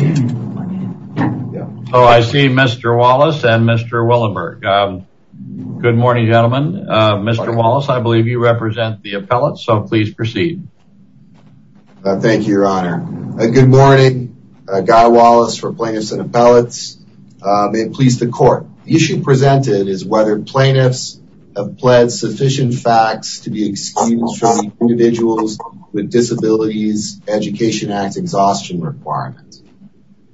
Oh, I see Mr. Wallace and Mr. Willenberg. Good morning gentlemen. Mr. Wallace, I believe you represent the appellate, so please proceed. Thank you, Your Honor. Good morning. Guy Wallace for plaintiffs and appellates. May it please the court. The issue presented is whether plaintiffs have pled sufficient facts to be excused from individuals with disabilities Education Act exhaustion requirements.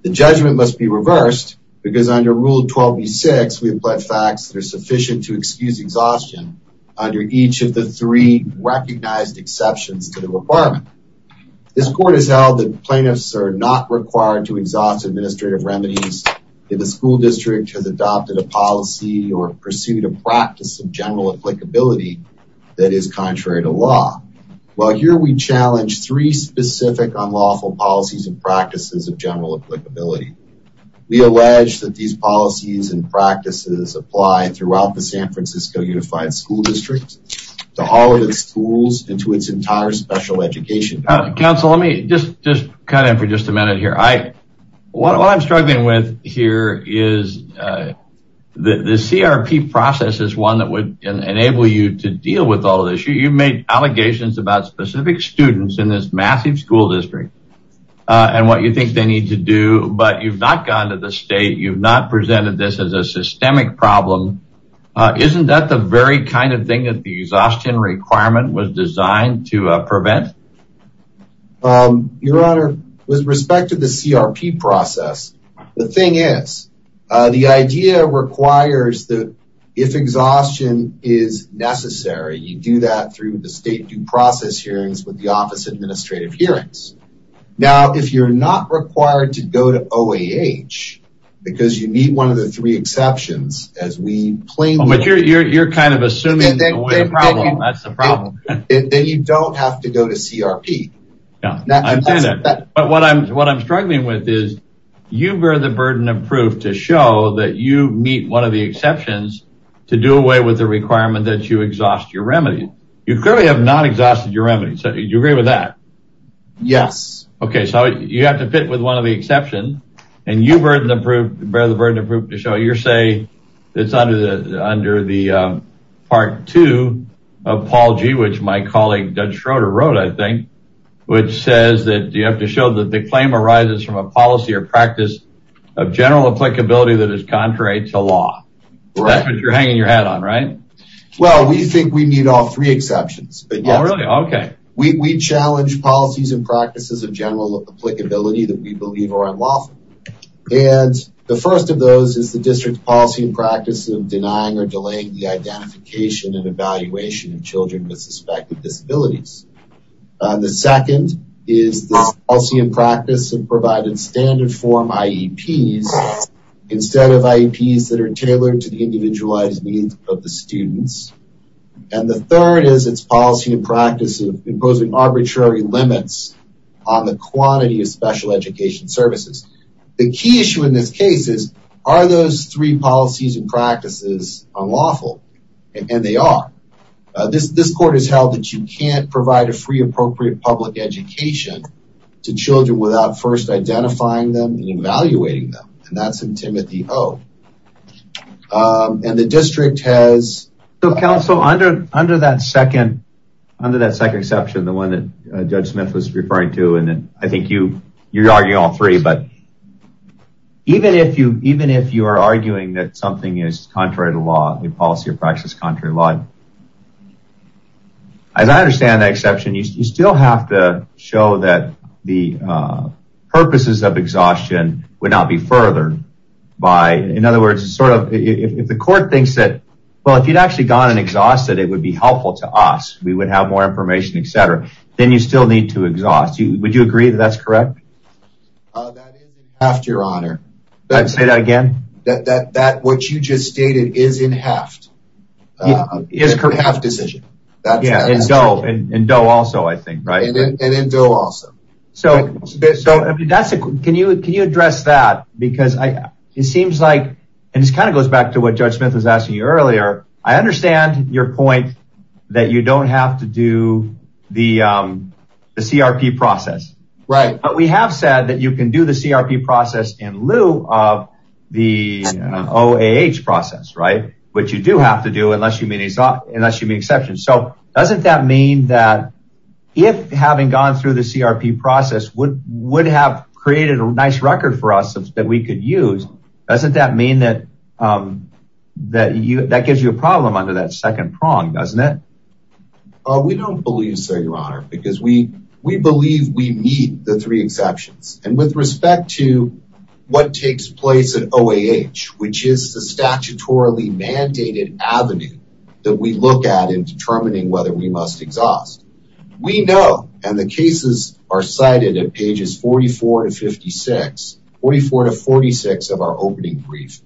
The judgment must be reversed because under Rule 12 v. 6 we have pled facts that are sufficient to excuse exhaustion under each of the three recognized exceptions to the requirement. This court has held that plaintiffs are not required to exhaust administrative remedies if the school district has adopted a policy or pursued a practice of general applicability that is contrary to law. While here we challenge three specific unlawful policies and practices of general applicability, we allege that these policies and practices apply throughout the San Francisco Unified School District to all of its schools and to its entire special education. Counsel, let me just cut in for just a minute here. What I'm struggling with here is the CRP process is one that would enable you to deal with all of this. You think they need to do, but you've not gone to the state, you've not presented this as a systemic problem. Isn't that the very kind of thing that the exhaustion requirement was designed to prevent? Your honor, with respect to the CRP process, the thing is, the idea requires that if exhaustion is necessary, you do that through the state due process hearings with the office administrative hearings. Now, if you're not required to go to OAH because you need one of the three exceptions as we claim, but you're, you're, you're kind of assuming that's the problem, then you don't have to go to CRP. But what I'm, what I'm struggling with is you bear the burden of proof to show that you meet one of the exceptions to do away with the requirement that you exhaust your remedy. You clearly have not exhausted your remedy. So you agree with that? Yes. Okay. So you have to fit with one of the exceptions and you burden of proof, bear the burden of proof to show your say, it's under the, under the part two of Paul G, which my colleague, Doug Schroeder wrote, I think, which says that you have to show that the claim arises from a policy or practice of general applicability that is contrary to law. That's what you're hanging your hat on, right? Well, we think we need all three exceptions. Oh, really? Okay. We challenge policies and practices of general applicability that we believe are unlawful. And the first of those is the district policy and practice of denying or delaying the identification and evaluation of children with suspected disabilities. The second is the policy and practice of providing standard form IEPs instead of IEPs that are tailored to the individualized of the students. And the third is its policy and practice of imposing arbitrary limits on the quantity of special education services. The key issue in this case is, are those three policies and practices unlawful? And they are. This, this court has held that you can't provide a free, appropriate public education to children without first identifying them and Timothy O. And the district has... Counsel, under that second exception, the one that Judge Smith was referring to, and I think you're arguing all three, but even if you are arguing that something is contrary to law, a policy or practice contrary to law, as I understand that exception, you still have to show that the purposes of by, in other words, sort of, if the court thinks that, well, if you'd actually gone and exhausted it, it would be helpful to us. We would have more information, et cetera. Then you still need to exhaust. Would you agree that that's correct? That is in heft, your honor. I'd say that again? That, that, that, what you just stated is in heft. Is correct. In a heft decision. Yeah. And in DOE also, I think, right? And in DOE also. So, so, I mean, that's a, can you, can you address that? Because I, it seems like, and this kind of goes back to what Judge Smith was asking you earlier. I understand your point that you don't have to do the, the CRP process. Right. But we have said that you can do the CRP process in lieu of the OAH process, right? Which you do have to do unless you mean, unless you mean exception. So doesn't that mean that if having gone through the CRP process would, would have created a nice record for us that we could use, doesn't that mean that, that you, that gives you a problem under that second prong, doesn't it? We don't believe so, your honor, because we, we believe we meet the three exceptions. And with respect to what takes place at OAH, which is the statutorily mandated avenue that we look at in determining whether we must We know, and the cases are cited at pages 44 to 56, 44 to 46 of our opening brief.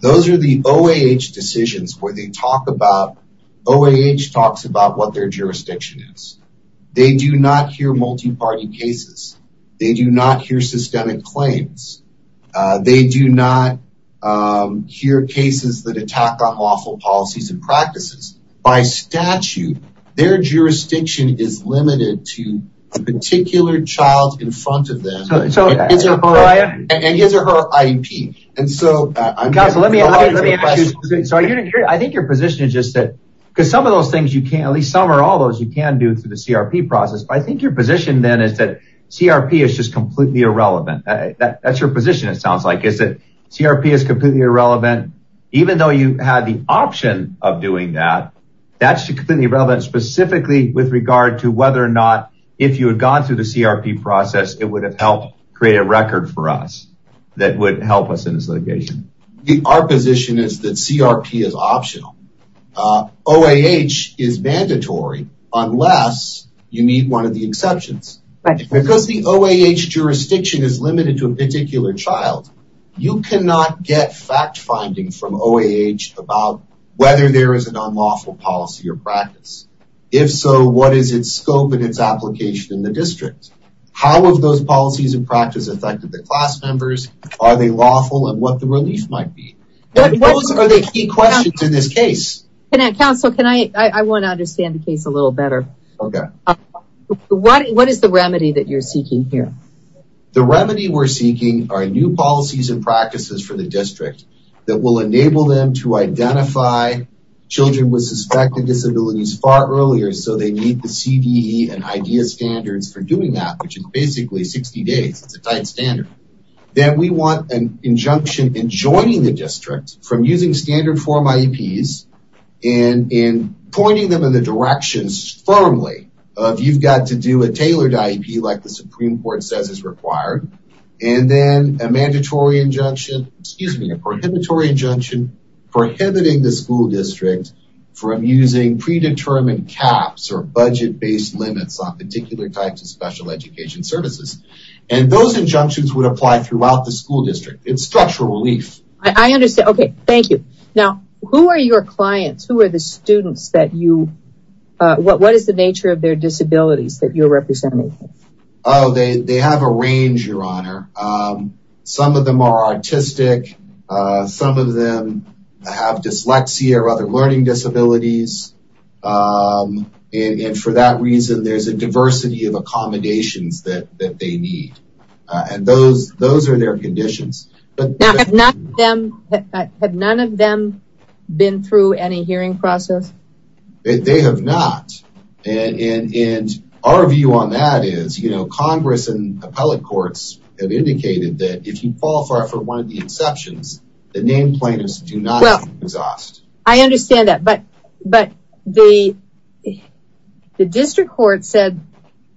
Those are the OAH decisions where they talk about, OAH talks about what their jurisdiction is. They do not hear multi-party cases. They do not hear systemic claims. They do not hear cases that attack on lawful policies and practices. By statute, their jurisdiction is limited to a particular child in front of them. And his or her IEP. And so, I'm sorry, I think your position is just that, because some of those things you can't, at least some or all those you can do through the CRP process. But I think your position then is that CRP is just completely irrelevant. That's your position. It sounds like is that CRP is completely irrelevant, even though you had the option of doing that. That's completely irrelevant, specifically with regard to whether or not if you had gone through the CRP process, it would have helped create a record for us that would help us in this litigation. Our position is that CRP is optional. OAH is mandatory, unless you need one of the exceptions. Because the OAH jurisdiction is limited to a particular child, you cannot get fact-finding from OAH about whether there is an unlawful policy or practice. If so, what is its scope and its application in the district? How have those policies and practices affected the class members? Are they lawful and what the relief might be? Those are the key questions in this case. Counsel, I want to understand the case a little better. What is the remedy that you're seeking here? The remedy we're seeking are new policies and practices for the district that will enable them to identify children with suspected disabilities far earlier so they meet the CDE and IDEA standards for doing that, which is basically 60 days. It's a tight standard. Then we want an injunction in joining the district from using standard form IEPs and in pointing them in the directions firmly of you've got to do a tailored IEP like the Supreme Court says is required. And then a mandatory injunction, excuse me, a prohibitory injunction prohibiting the school district from using predetermined caps or budget-based limits on particular types of special education services. And those injunctions would apply throughout the school district. It's structural relief. I understand. Okay. Thank you. Now, who are your clients? Who are the students that you, what is the nature of their disabilities that you're representing? Oh, they have a range, your honor. Some of them are autistic. Some of them have dyslexia or other learning disabilities. And for that reason, there's a diversity of accommodations that they need. And those are their conditions. Have none of them been through any hearing process? They have not. And our view on that is, you know, Congress and appellate courts have indicated that if you fall for one of the exceptions, the name plaintiffs do not exhaust. I understand that. But the district court said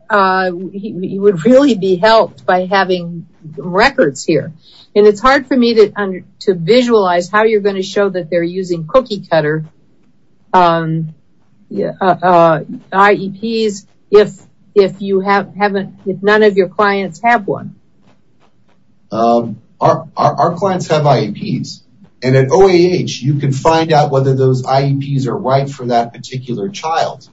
he would really be helped by having records here. And it's hard for me to visualize how you're going to show that they're using cookie cutter IEPs if you haven't, if none of your clients have one. Our clients have IEPs. And at OAH, you can find out whether those IEPs are right for that particular child.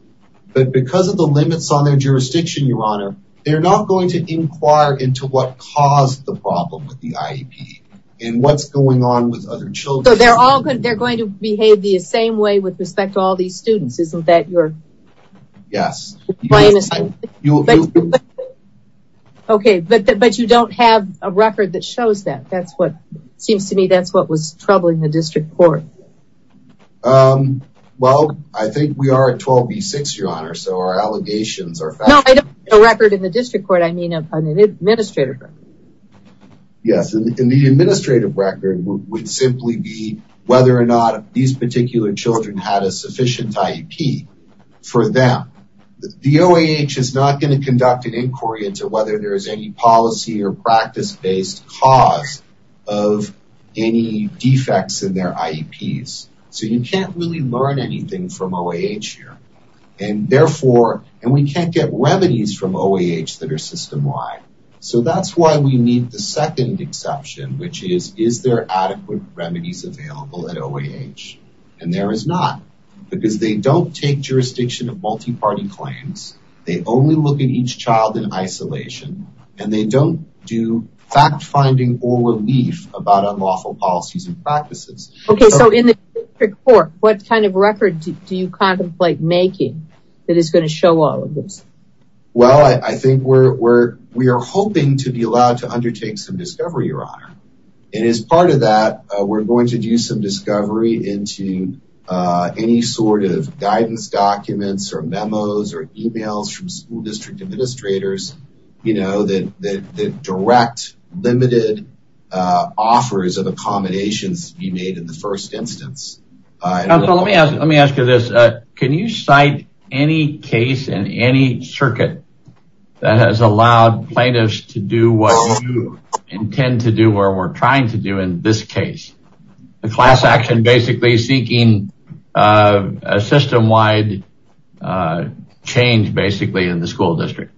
But because of the limits on their jurisdiction, your honor, they're not going to inquire into what caused the problem with the IEP and what's going on with other children. They're going to behave the same way with respect to all these students, isn't that your? Yes. Okay. But you don't have a record that shows that. That's what seems to me, that's what was troubling the district court. Well, I think we are at 12B6, your honor. So our allegations are facts. No, I don't have a record in the district court. I mean an administrative record. Yes. And the administrative record would simply be whether or not these particular children had a sufficient IEP for them. The OAH is not going to conduct an inquiry into whether there is any policy or practice based cause of any defects in their IEPs. So you can't really learn anything from OAH here. And therefore, and we can't get remedies from OAH that are system wide. So that's why we need the second exception, which is, is there adequate remedies available at OAH? And there is not because they don't take jurisdiction of multi-party claims. They only look at each child in isolation and they don't do fact finding or relief about unlawful policies and practices. Okay. So in the district court, what kind of record do you contemplate making that is going to show all of this? Well, I think we're, we're, we are hoping to be allowed to undertake some discovery, your honor. And as part of that, we're going to do some discovery into any sort of guidance documents or memos or emails from school district administrators, you know, that, that, that direct limited offers of accommodations to be made in the first instance. Let me ask, let me ask you this. Can you cite any case in any circuit that has allowed plaintiffs to do what you intend to do where we're trying to do in this case? The class action, basically seeking a system wide change, basically in the school district.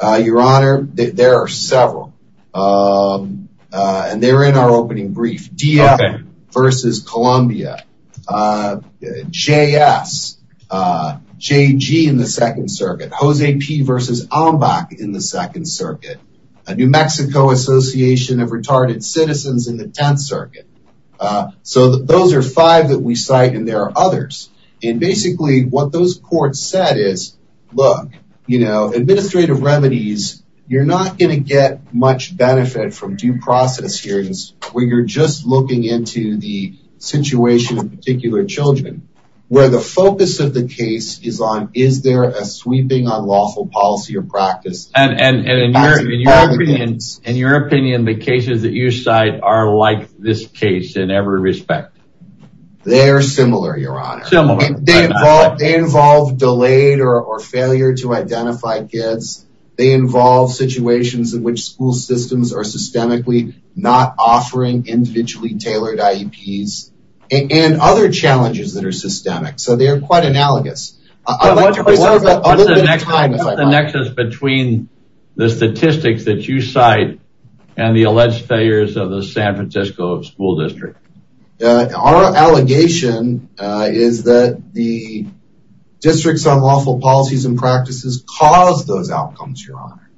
Your honor, there are several and they're in our opening brief. DF versus Columbia, JS, JG in the second circuit, Jose P versus Ombak in the second circuit, a New Mexico association of retarded citizens in the 10th circuit. So those are five that we cite and there are others. And basically what those courts said is, look, you know, administrative remedies, you're not going to get much benefit from due process hearings where you're just looking into the situation of particular children, where the focus of the case is on, is there a sweeping unlawful policy or practice? And in your opinion, the cases that you cite are like this case in every respect. They're similar, your honor. They involve delayed or failure to identify kids. They involve situations in which school systems are offering individually tailored IEPs and other challenges that are systemic. So they are quite analogous. What's the nexus between the statistics that you cite and the alleged failures of the San Francisco school district? Our allegation is that the districts on lawful policies and practices cause those outcomes, your honor.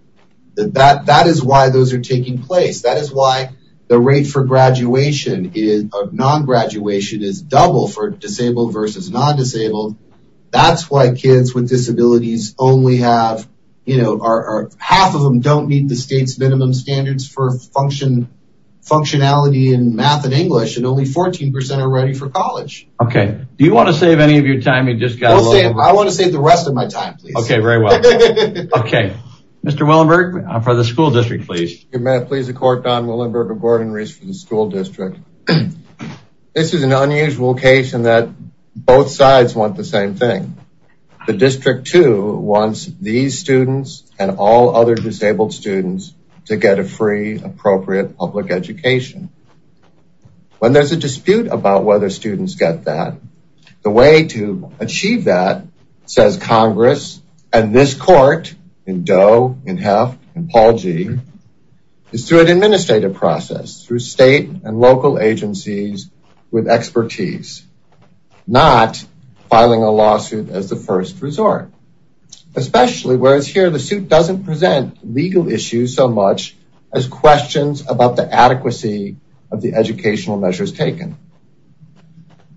That is why those are taking place. That is why the rate for non-graduation is double for disabled versus non-disabled. That's why kids with disabilities only have, you know, half of them don't meet the state's minimum standards for functionality in math and English and only 14% are ready for college. Okay. Do you want to save any of your time? I want to save the rest of my time, please. Okay. Very well. Okay. Mr. Willenberg for the school district, please. May I please the court, Don Willenberg of Gordon-Reese for the school district. This is an unusual case in that both sides want the same thing. The district too wants these students and all other disabled students to get a free appropriate public education. When there's a dispute about whether students get that, the way to achieve that says Congress and this court in Doe, in Heft, in Paul G is through an administrative process through state and local agencies with expertise, not filing a lawsuit as the first resort. Especially whereas here the suit doesn't present legal issues so much as questions about the adequacy of the educational measures taken.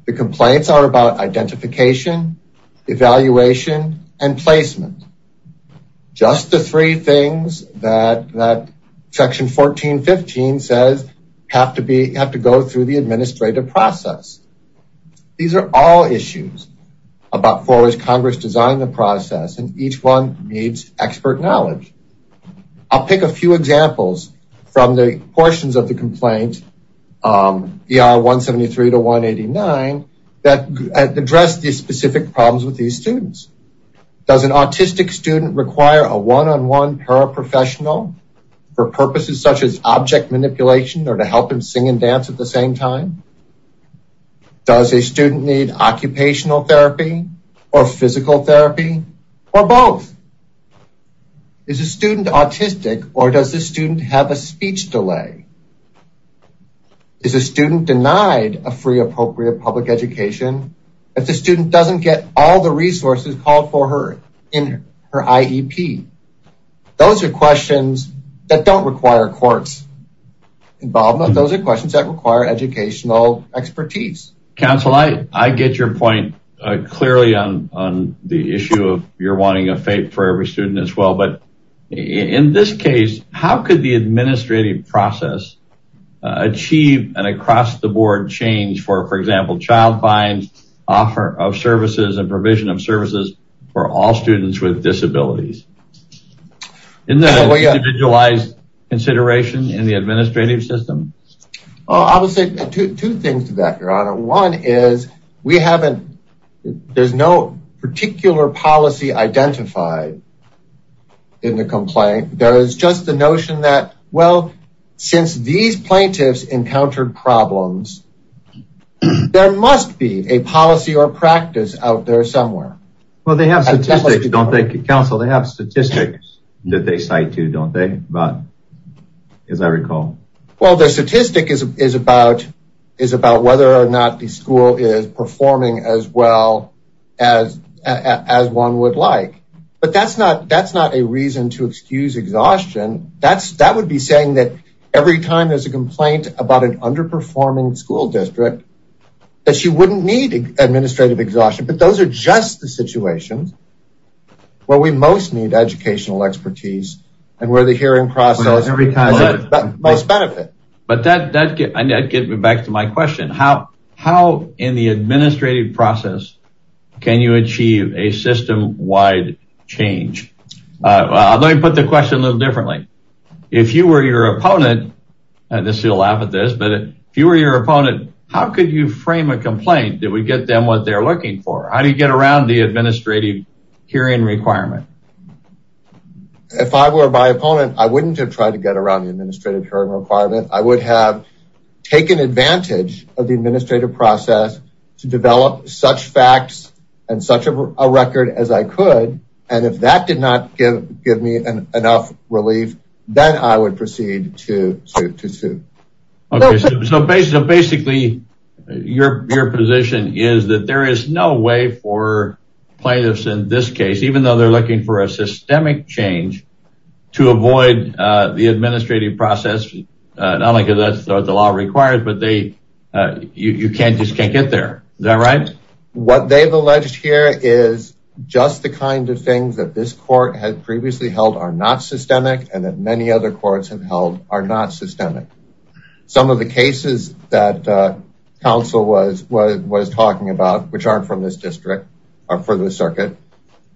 The complaints are about identification, evaluation, and placement. Just the three things that that section 1415 says have to be, have to go through the administrative process. These are all issues about forward Congress design the process and each one needs expert knowledge. I'll pick a few examples from the portions of the complaint. Um, ER 173 to 189 that addressed the specific problems with these students. Does an autistic student require a one-on-one paraprofessional for purposes such as object manipulation or to help him sing and dance at the same time? Does a student need occupational therapy or physical therapy or both? Is a student autistic or does the student have a speech delay? Is a student denied a free appropriate public education if the student doesn't get all the resources called for her in her IEP? Those are questions that don't require courts involvement. Those are questions that require educational expertise. Counsel, I, I get your point clearly on, on the issue of you're wanting a FAPE for every student as well. In this case, how could the administrative process achieve an across the board change for, for example, child finds offer of services and provision of services for all students with disabilities in the individualized consideration in the administrative system? I would say two things to that, your honor. One is we haven't, there's no particular policy identified in the complaint. There is just the notion that, well, since these plaintiffs encountered problems, there must be a policy or practice out there somewhere. Well, they have statistics, don't they, counsel? They have statistics that they cite too, don't they? But as I recall. Well, the statistic is, is about, is about whether or not the school is performing as well as, as one would like. But that's not, that's not a reason to excuse exhaustion. That's, that would be saying that every time there's a complaint about an underperforming school district, that she wouldn't need administrative exhaustion, but those are just the situations where we most need educational expertise and where the hearing process has the most benefit. But that, that gets me back to my question. How in the administrative process can you achieve a system-wide change? Well, let me put the question a little differently. If you were your opponent, and this is a laugh at this, but if you were your opponent, how could you frame a complaint? Did we get them what they're looking for? How do you get around the administrative hearing requirement? If I were my opponent, I wouldn't have tried to get around the administrative hearing requirement. I would have taken advantage of the administrative process to develop such facts and such a record as I could. And if that did not give, give me an enough relief, then I would proceed to, to sue. Okay. So basically, your, your position is that there is no way for plaintiffs in this case, even though they're looking for a systemic change to avoid the administrative process, not only because that's what the law requires, but they, you can't, just can't get there. Is that right? What they've alleged here is just the kind of things that this court had previously held are not systemic. And that many other courts have held are not systemic. Some of the cases that council was, was, was talking about, which aren't from this district or for the circuit,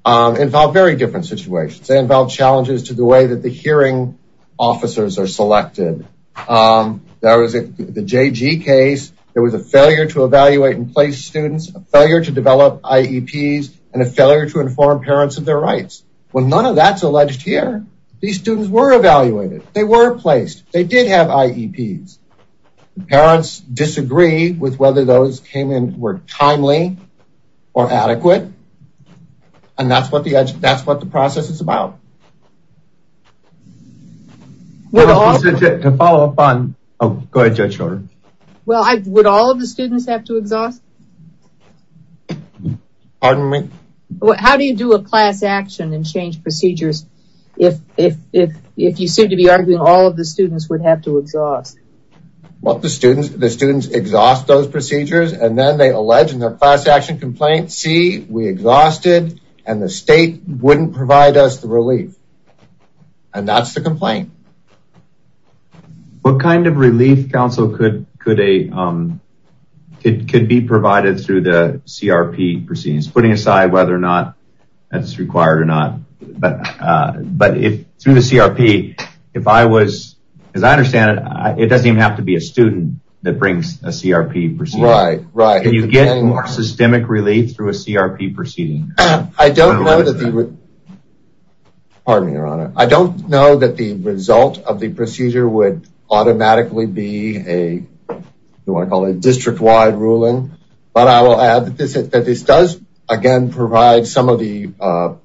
involve very different situations. They involve challenges to the way that the hearing officers are selected. There was the JG case. There was a failure to evaluate and place students, a failure to develop IEPs and a failure to inform parents of their rights. Well, none of that's alleged here. These students were evaluated. They were placed. They did have IEPs. Parents disagree with whether those came in were timely or adequate. And that's what the process is about. To follow up on, oh, go ahead, Judge Schroeder. Well, would all of the students have to exhaust? Pardon me? How do you do a class action and change procedures? If, if, if, if you seem to be arguing all of the students would have to exhaust? Well, the students, the students exhaust those procedures and then they allege in their class action complaint, see, we exhausted and the state wouldn't provide us the relief. And that's the complaint. What kind of relief counsel could, could a, it could be provided through the CRP proceedings, putting aside whether or not that's required or not. But, but if through the CRP, if I was, as I understand it, it doesn't even have to be a student that brings a CRP procedure. Right, right. You get more systemic relief through a CRP proceeding. I don't know that the, pardon me, Your Honor. I don't know that the result of the procedure would automatically be a, you want to call it a district-wide ruling. But I will add that this is, that this does, again, provide some of the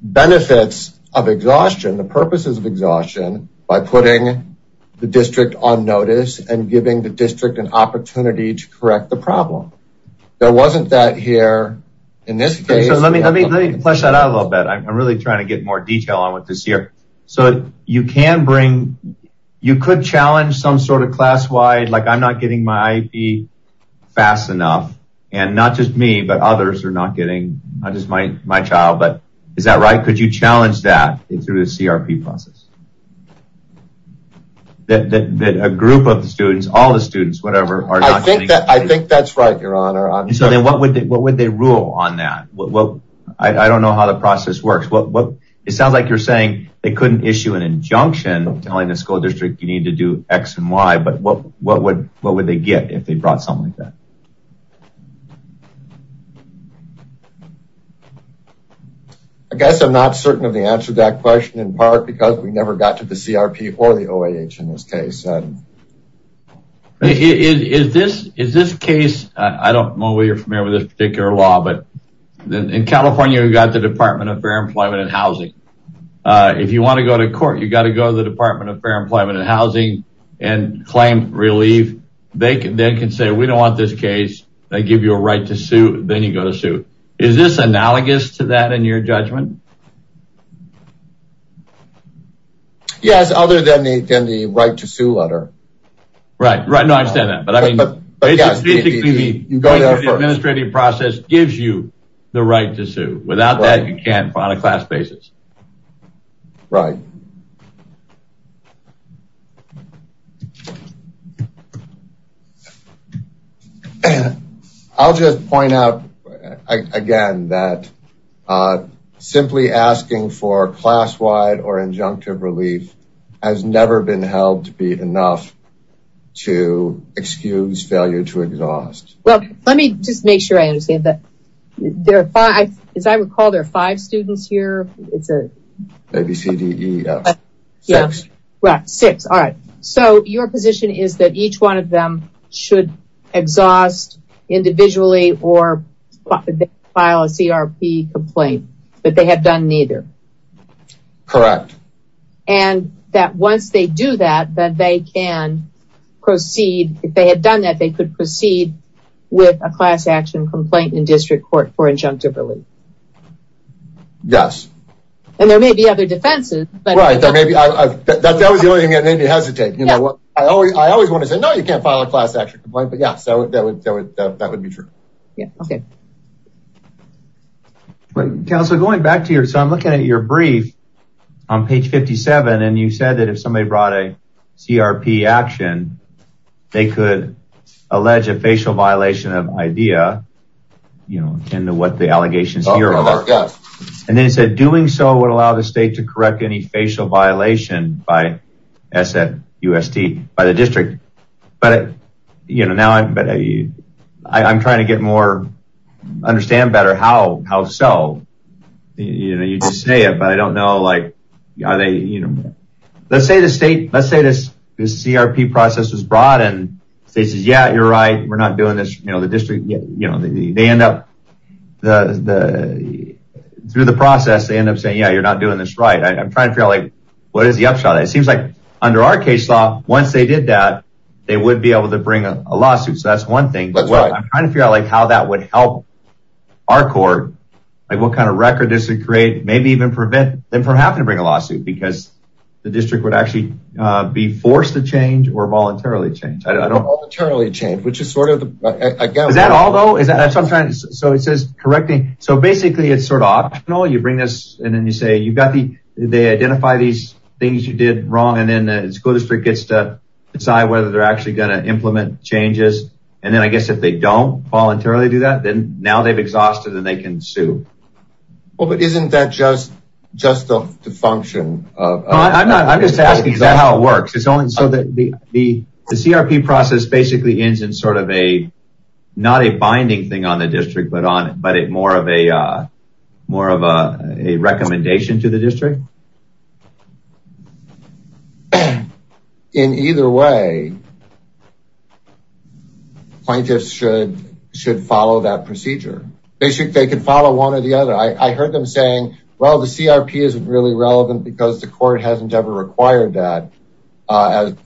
benefits of exhaustion, the purposes of exhaustion by putting the district on notice and giving the district an opportunity to correct the problem. There wasn't that here in this case. Let me, let me, let me flesh that out a little bit. I'm really trying to get more detail on what this year. So you can bring, you could challenge some sort of class-wide, like I'm not getting my IP fast enough and not just me, but others are not getting, not just my, my child, but is that right? Could you challenge that through the CRP process? That, that, that a group of the students, all the students, whatever. I think that, I think that's right, Your Honor. So then what would they, what would they rule on that? Well, I don't know how the process works. Well, it sounds like you're saying they couldn't issue an injunction telling the school district, you need to do X and Y, but what, what would, what would they get if they brought something like that? I guess I'm not certain of the answer to that question in part, because we never know. We never got to the CRP or the OAH in this case. Is this, is this case, I don't know whether you're familiar with this particular law, but then in California, we've got the Department of Fair Employment and Housing. If you want to go to court, you got to go to the Department of Fair Employment and Housing and claim relief. They can, they can say, we don't want this case. They give you a right to sue. Then you go to sue. Is this analogous to that in your judgment? Yes, other than the, than the right to sue letter. Right, right. No, I understand that. But I mean, going through the administrative process gives you the right to sue. Without that, you can't file a class basis. Right. I'll just point out again that simply asking for class-wide or injunctive relief has never been held to be enough to excuse failure to exhaust. Well, let me just make sure I understand that there are five, as I recall, there are five students here. It's a ABCDE, yeah, six. Right, six. All right. So your position is that each one of them should exhaust individually or file a CRP complaint, but they have done neither. Correct. And that once they do that, that they can proceed. If they had done that, they could proceed with a class action complaint in district court for injunctive relief. Yes. And there may be other defenses. Right, there may be. That was the only thing I didn't hesitate. You know, I always want to say, no, you can't file a class action complaint. But yeah, so that would, that would, that would be true. Yeah. Okay. Well, Councilor, going back to your, so I'm looking at your brief on page 57, and you said that if somebody brought a CRP action, they could allege a facial violation of IDEA, you know, into what the allegations here are. And then you said doing so would allow the state to correct any facial violation by SFUST by the district. But, you know, now I'm trying to get more understand better how, how so, you know, you just say it, but I don't know, like, are they, you know, let's say the state, let's say this, this CRP process was brought, and they said, yeah, you're right. We're not doing this, you know, the district, you know, they end up the, through the process, they end up saying, yeah, you're not doing this right. I'm trying to figure out, like, what is the upshot? It seems like under our case law, once they did that, they would be able to bring a lawsuit. So that's one thing. I'm trying to figure out, like, how that would help our court. Like, what kind of record does it create? Maybe even prevent them from having to bring a lawsuit because the district would actually be forced to change or voluntarily change. I don't know. Voluntarily change, which is sort of, I guess. Is that all though? Is that what I'm trying to, so it says correcting. So basically it's sort of optional. You bring this and then you say, you've got the, they identify these things you did wrong. And then the school district gets to decide whether they're actually going to implement changes. And then I guess if they don't voluntarily do that, then now they've exhausted and they can sue. Well, but isn't that just of the function of. No, I'm not. I'm just asking, is that how it works? It's only so that the CRP process basically ends in sort of a, not a binding thing on the district, but more of a recommendation to the district. So in either way, plaintiffs should follow that procedure. They should, they can follow one or the other. I heard them saying, well, the CRP isn't really relevant because the court hasn't ever required that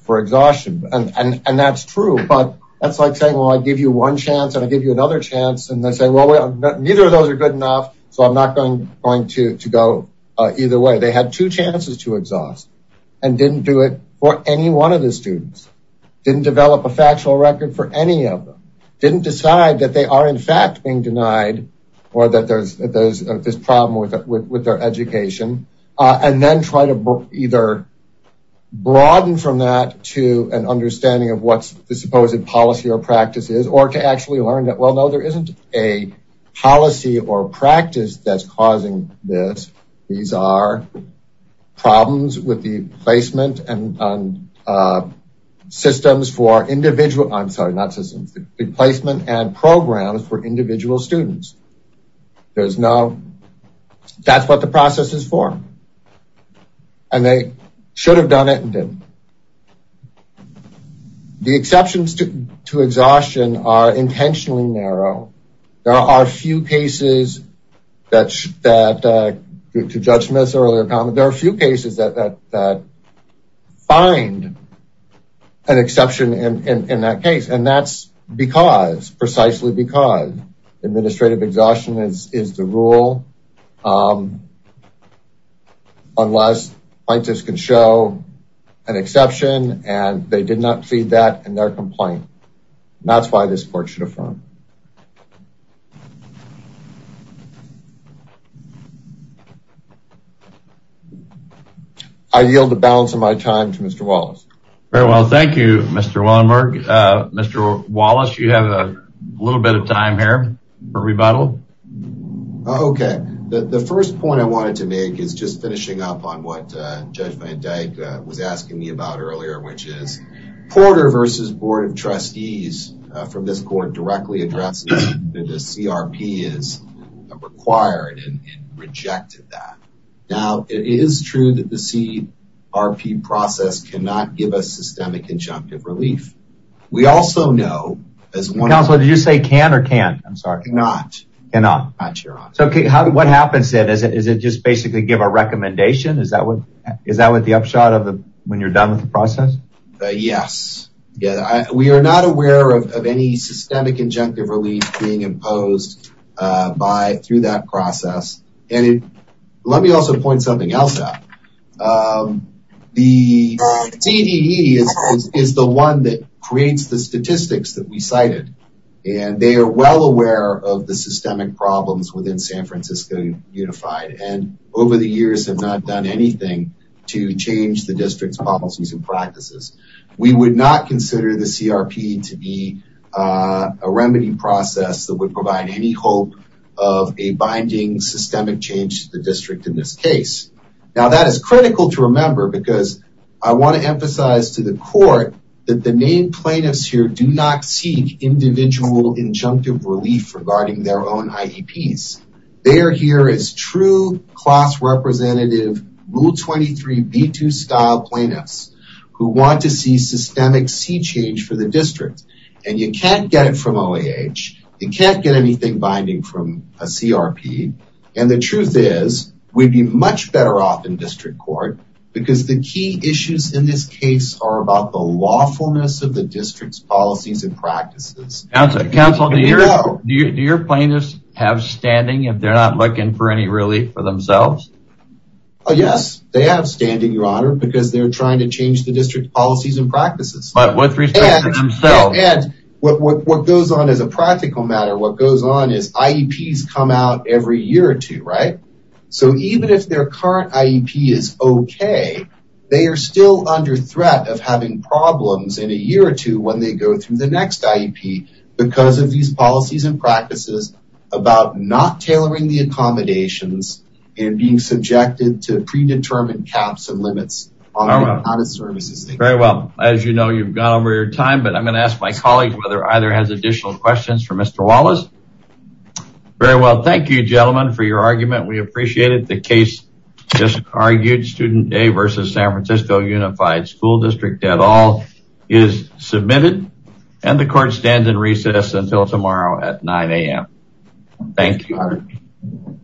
for exhaustion. And that's true, but that's like saying, well, I give you one chance and I give you another chance. And they say, well, neither of those are good enough. So I'm not going to go either way. They had two chances to exhaust and didn't do it for any one of the students. Didn't develop a factual record for any of them. Didn't decide that they are in fact being denied or that there's this problem with their education. And then try to either broaden from that to an understanding of what's the supposed policy or practice is, or to actually learn that, well, no, there isn't a policy or practice that's causing this. These are problems with the placement and systems for individual, I'm sorry, not systems, the placement and programs for individual students. There's no, that's what the process is for. And they should have done it and didn't. The exceptions to exhaustion are intentionally narrow. There are few cases that, to Judge Smith's earlier comment, there are few cases that find an exception in that case. And that's because, precisely because, administrative exhaustion is the rule unless plaintiffs can show an exception and they did not plead that in their complaint. And that's why this court should affirm. I yield the balance of my time to Mr. Wallace. Very well, thank you, Mr. Wallenberg. Mr. Wallace, you have a little bit of time here for rebuttal. Okay, the first point I wanted to make is just finishing up on what Judge Van Dyke was asking me about earlier, which is Porter versus Board of Trustees from this court directly addressed that the CRP is required and rejected that. Now, it is true that the CRP process cannot give us systemic injunctive relief. We also know, as one- Counselor, did you say can or can't? I'm sorry. Cannot. Cannot? Cannot, Your Honor. So what happens then? Is it just basically give a recommendation? Is that what the upshot of the, when you're done with the process? Yes. We are not aware of any systemic injunctive relief being imposed through that process. And let me also point something else out. The CDE is the one that creates the statistics that we cited, and they are well aware of the systemic problems within San Francisco Unified, and over the years have not done anything to change the district's policies and practices. We would not consider the CRP to be a remedy process that would provide any hope of a binding systemic change to the district in this case. Now, that is critical to remember because I want to emphasize to the court that the main plaintiffs here do not seek individual injunctive relief regarding their own IEPs. They are here as true class representative Rule 23, B2 style plaintiffs who want to see systemic sea change for the district. And you can't get it from OAH. You can't get anything binding from a CRP. And the truth is we'd be much better off in district court because the key issues in this case are about the lawfulness of the district's policies and practices. Counselor, do your plaintiffs have standing if they're not looking for any relief for themselves? Oh, yes, they have standing, Your Honor, because they're trying to change the district policies and practices. And what goes on as a practical matter, what goes on is IEPs come out every year or two, right? So even if their current IEP is okay, they are still under threat of having problems in a year or two when they go through the next IEP because of these policies and practices about not tailoring the accommodations and being subjected to predetermined caps and limits. Very well. As you know, you've gone over your time, but I'm going to ask my colleague whether either has additional questions for Mr. Wallace. Very well. Thank you, gentlemen, for your argument. We appreciate it. The case just argued, Student Day versus San Francisco Unified School District at all is submitted. And the court stands in recess until tomorrow at 9 a.m. Thank you, Your Honor. Thank you.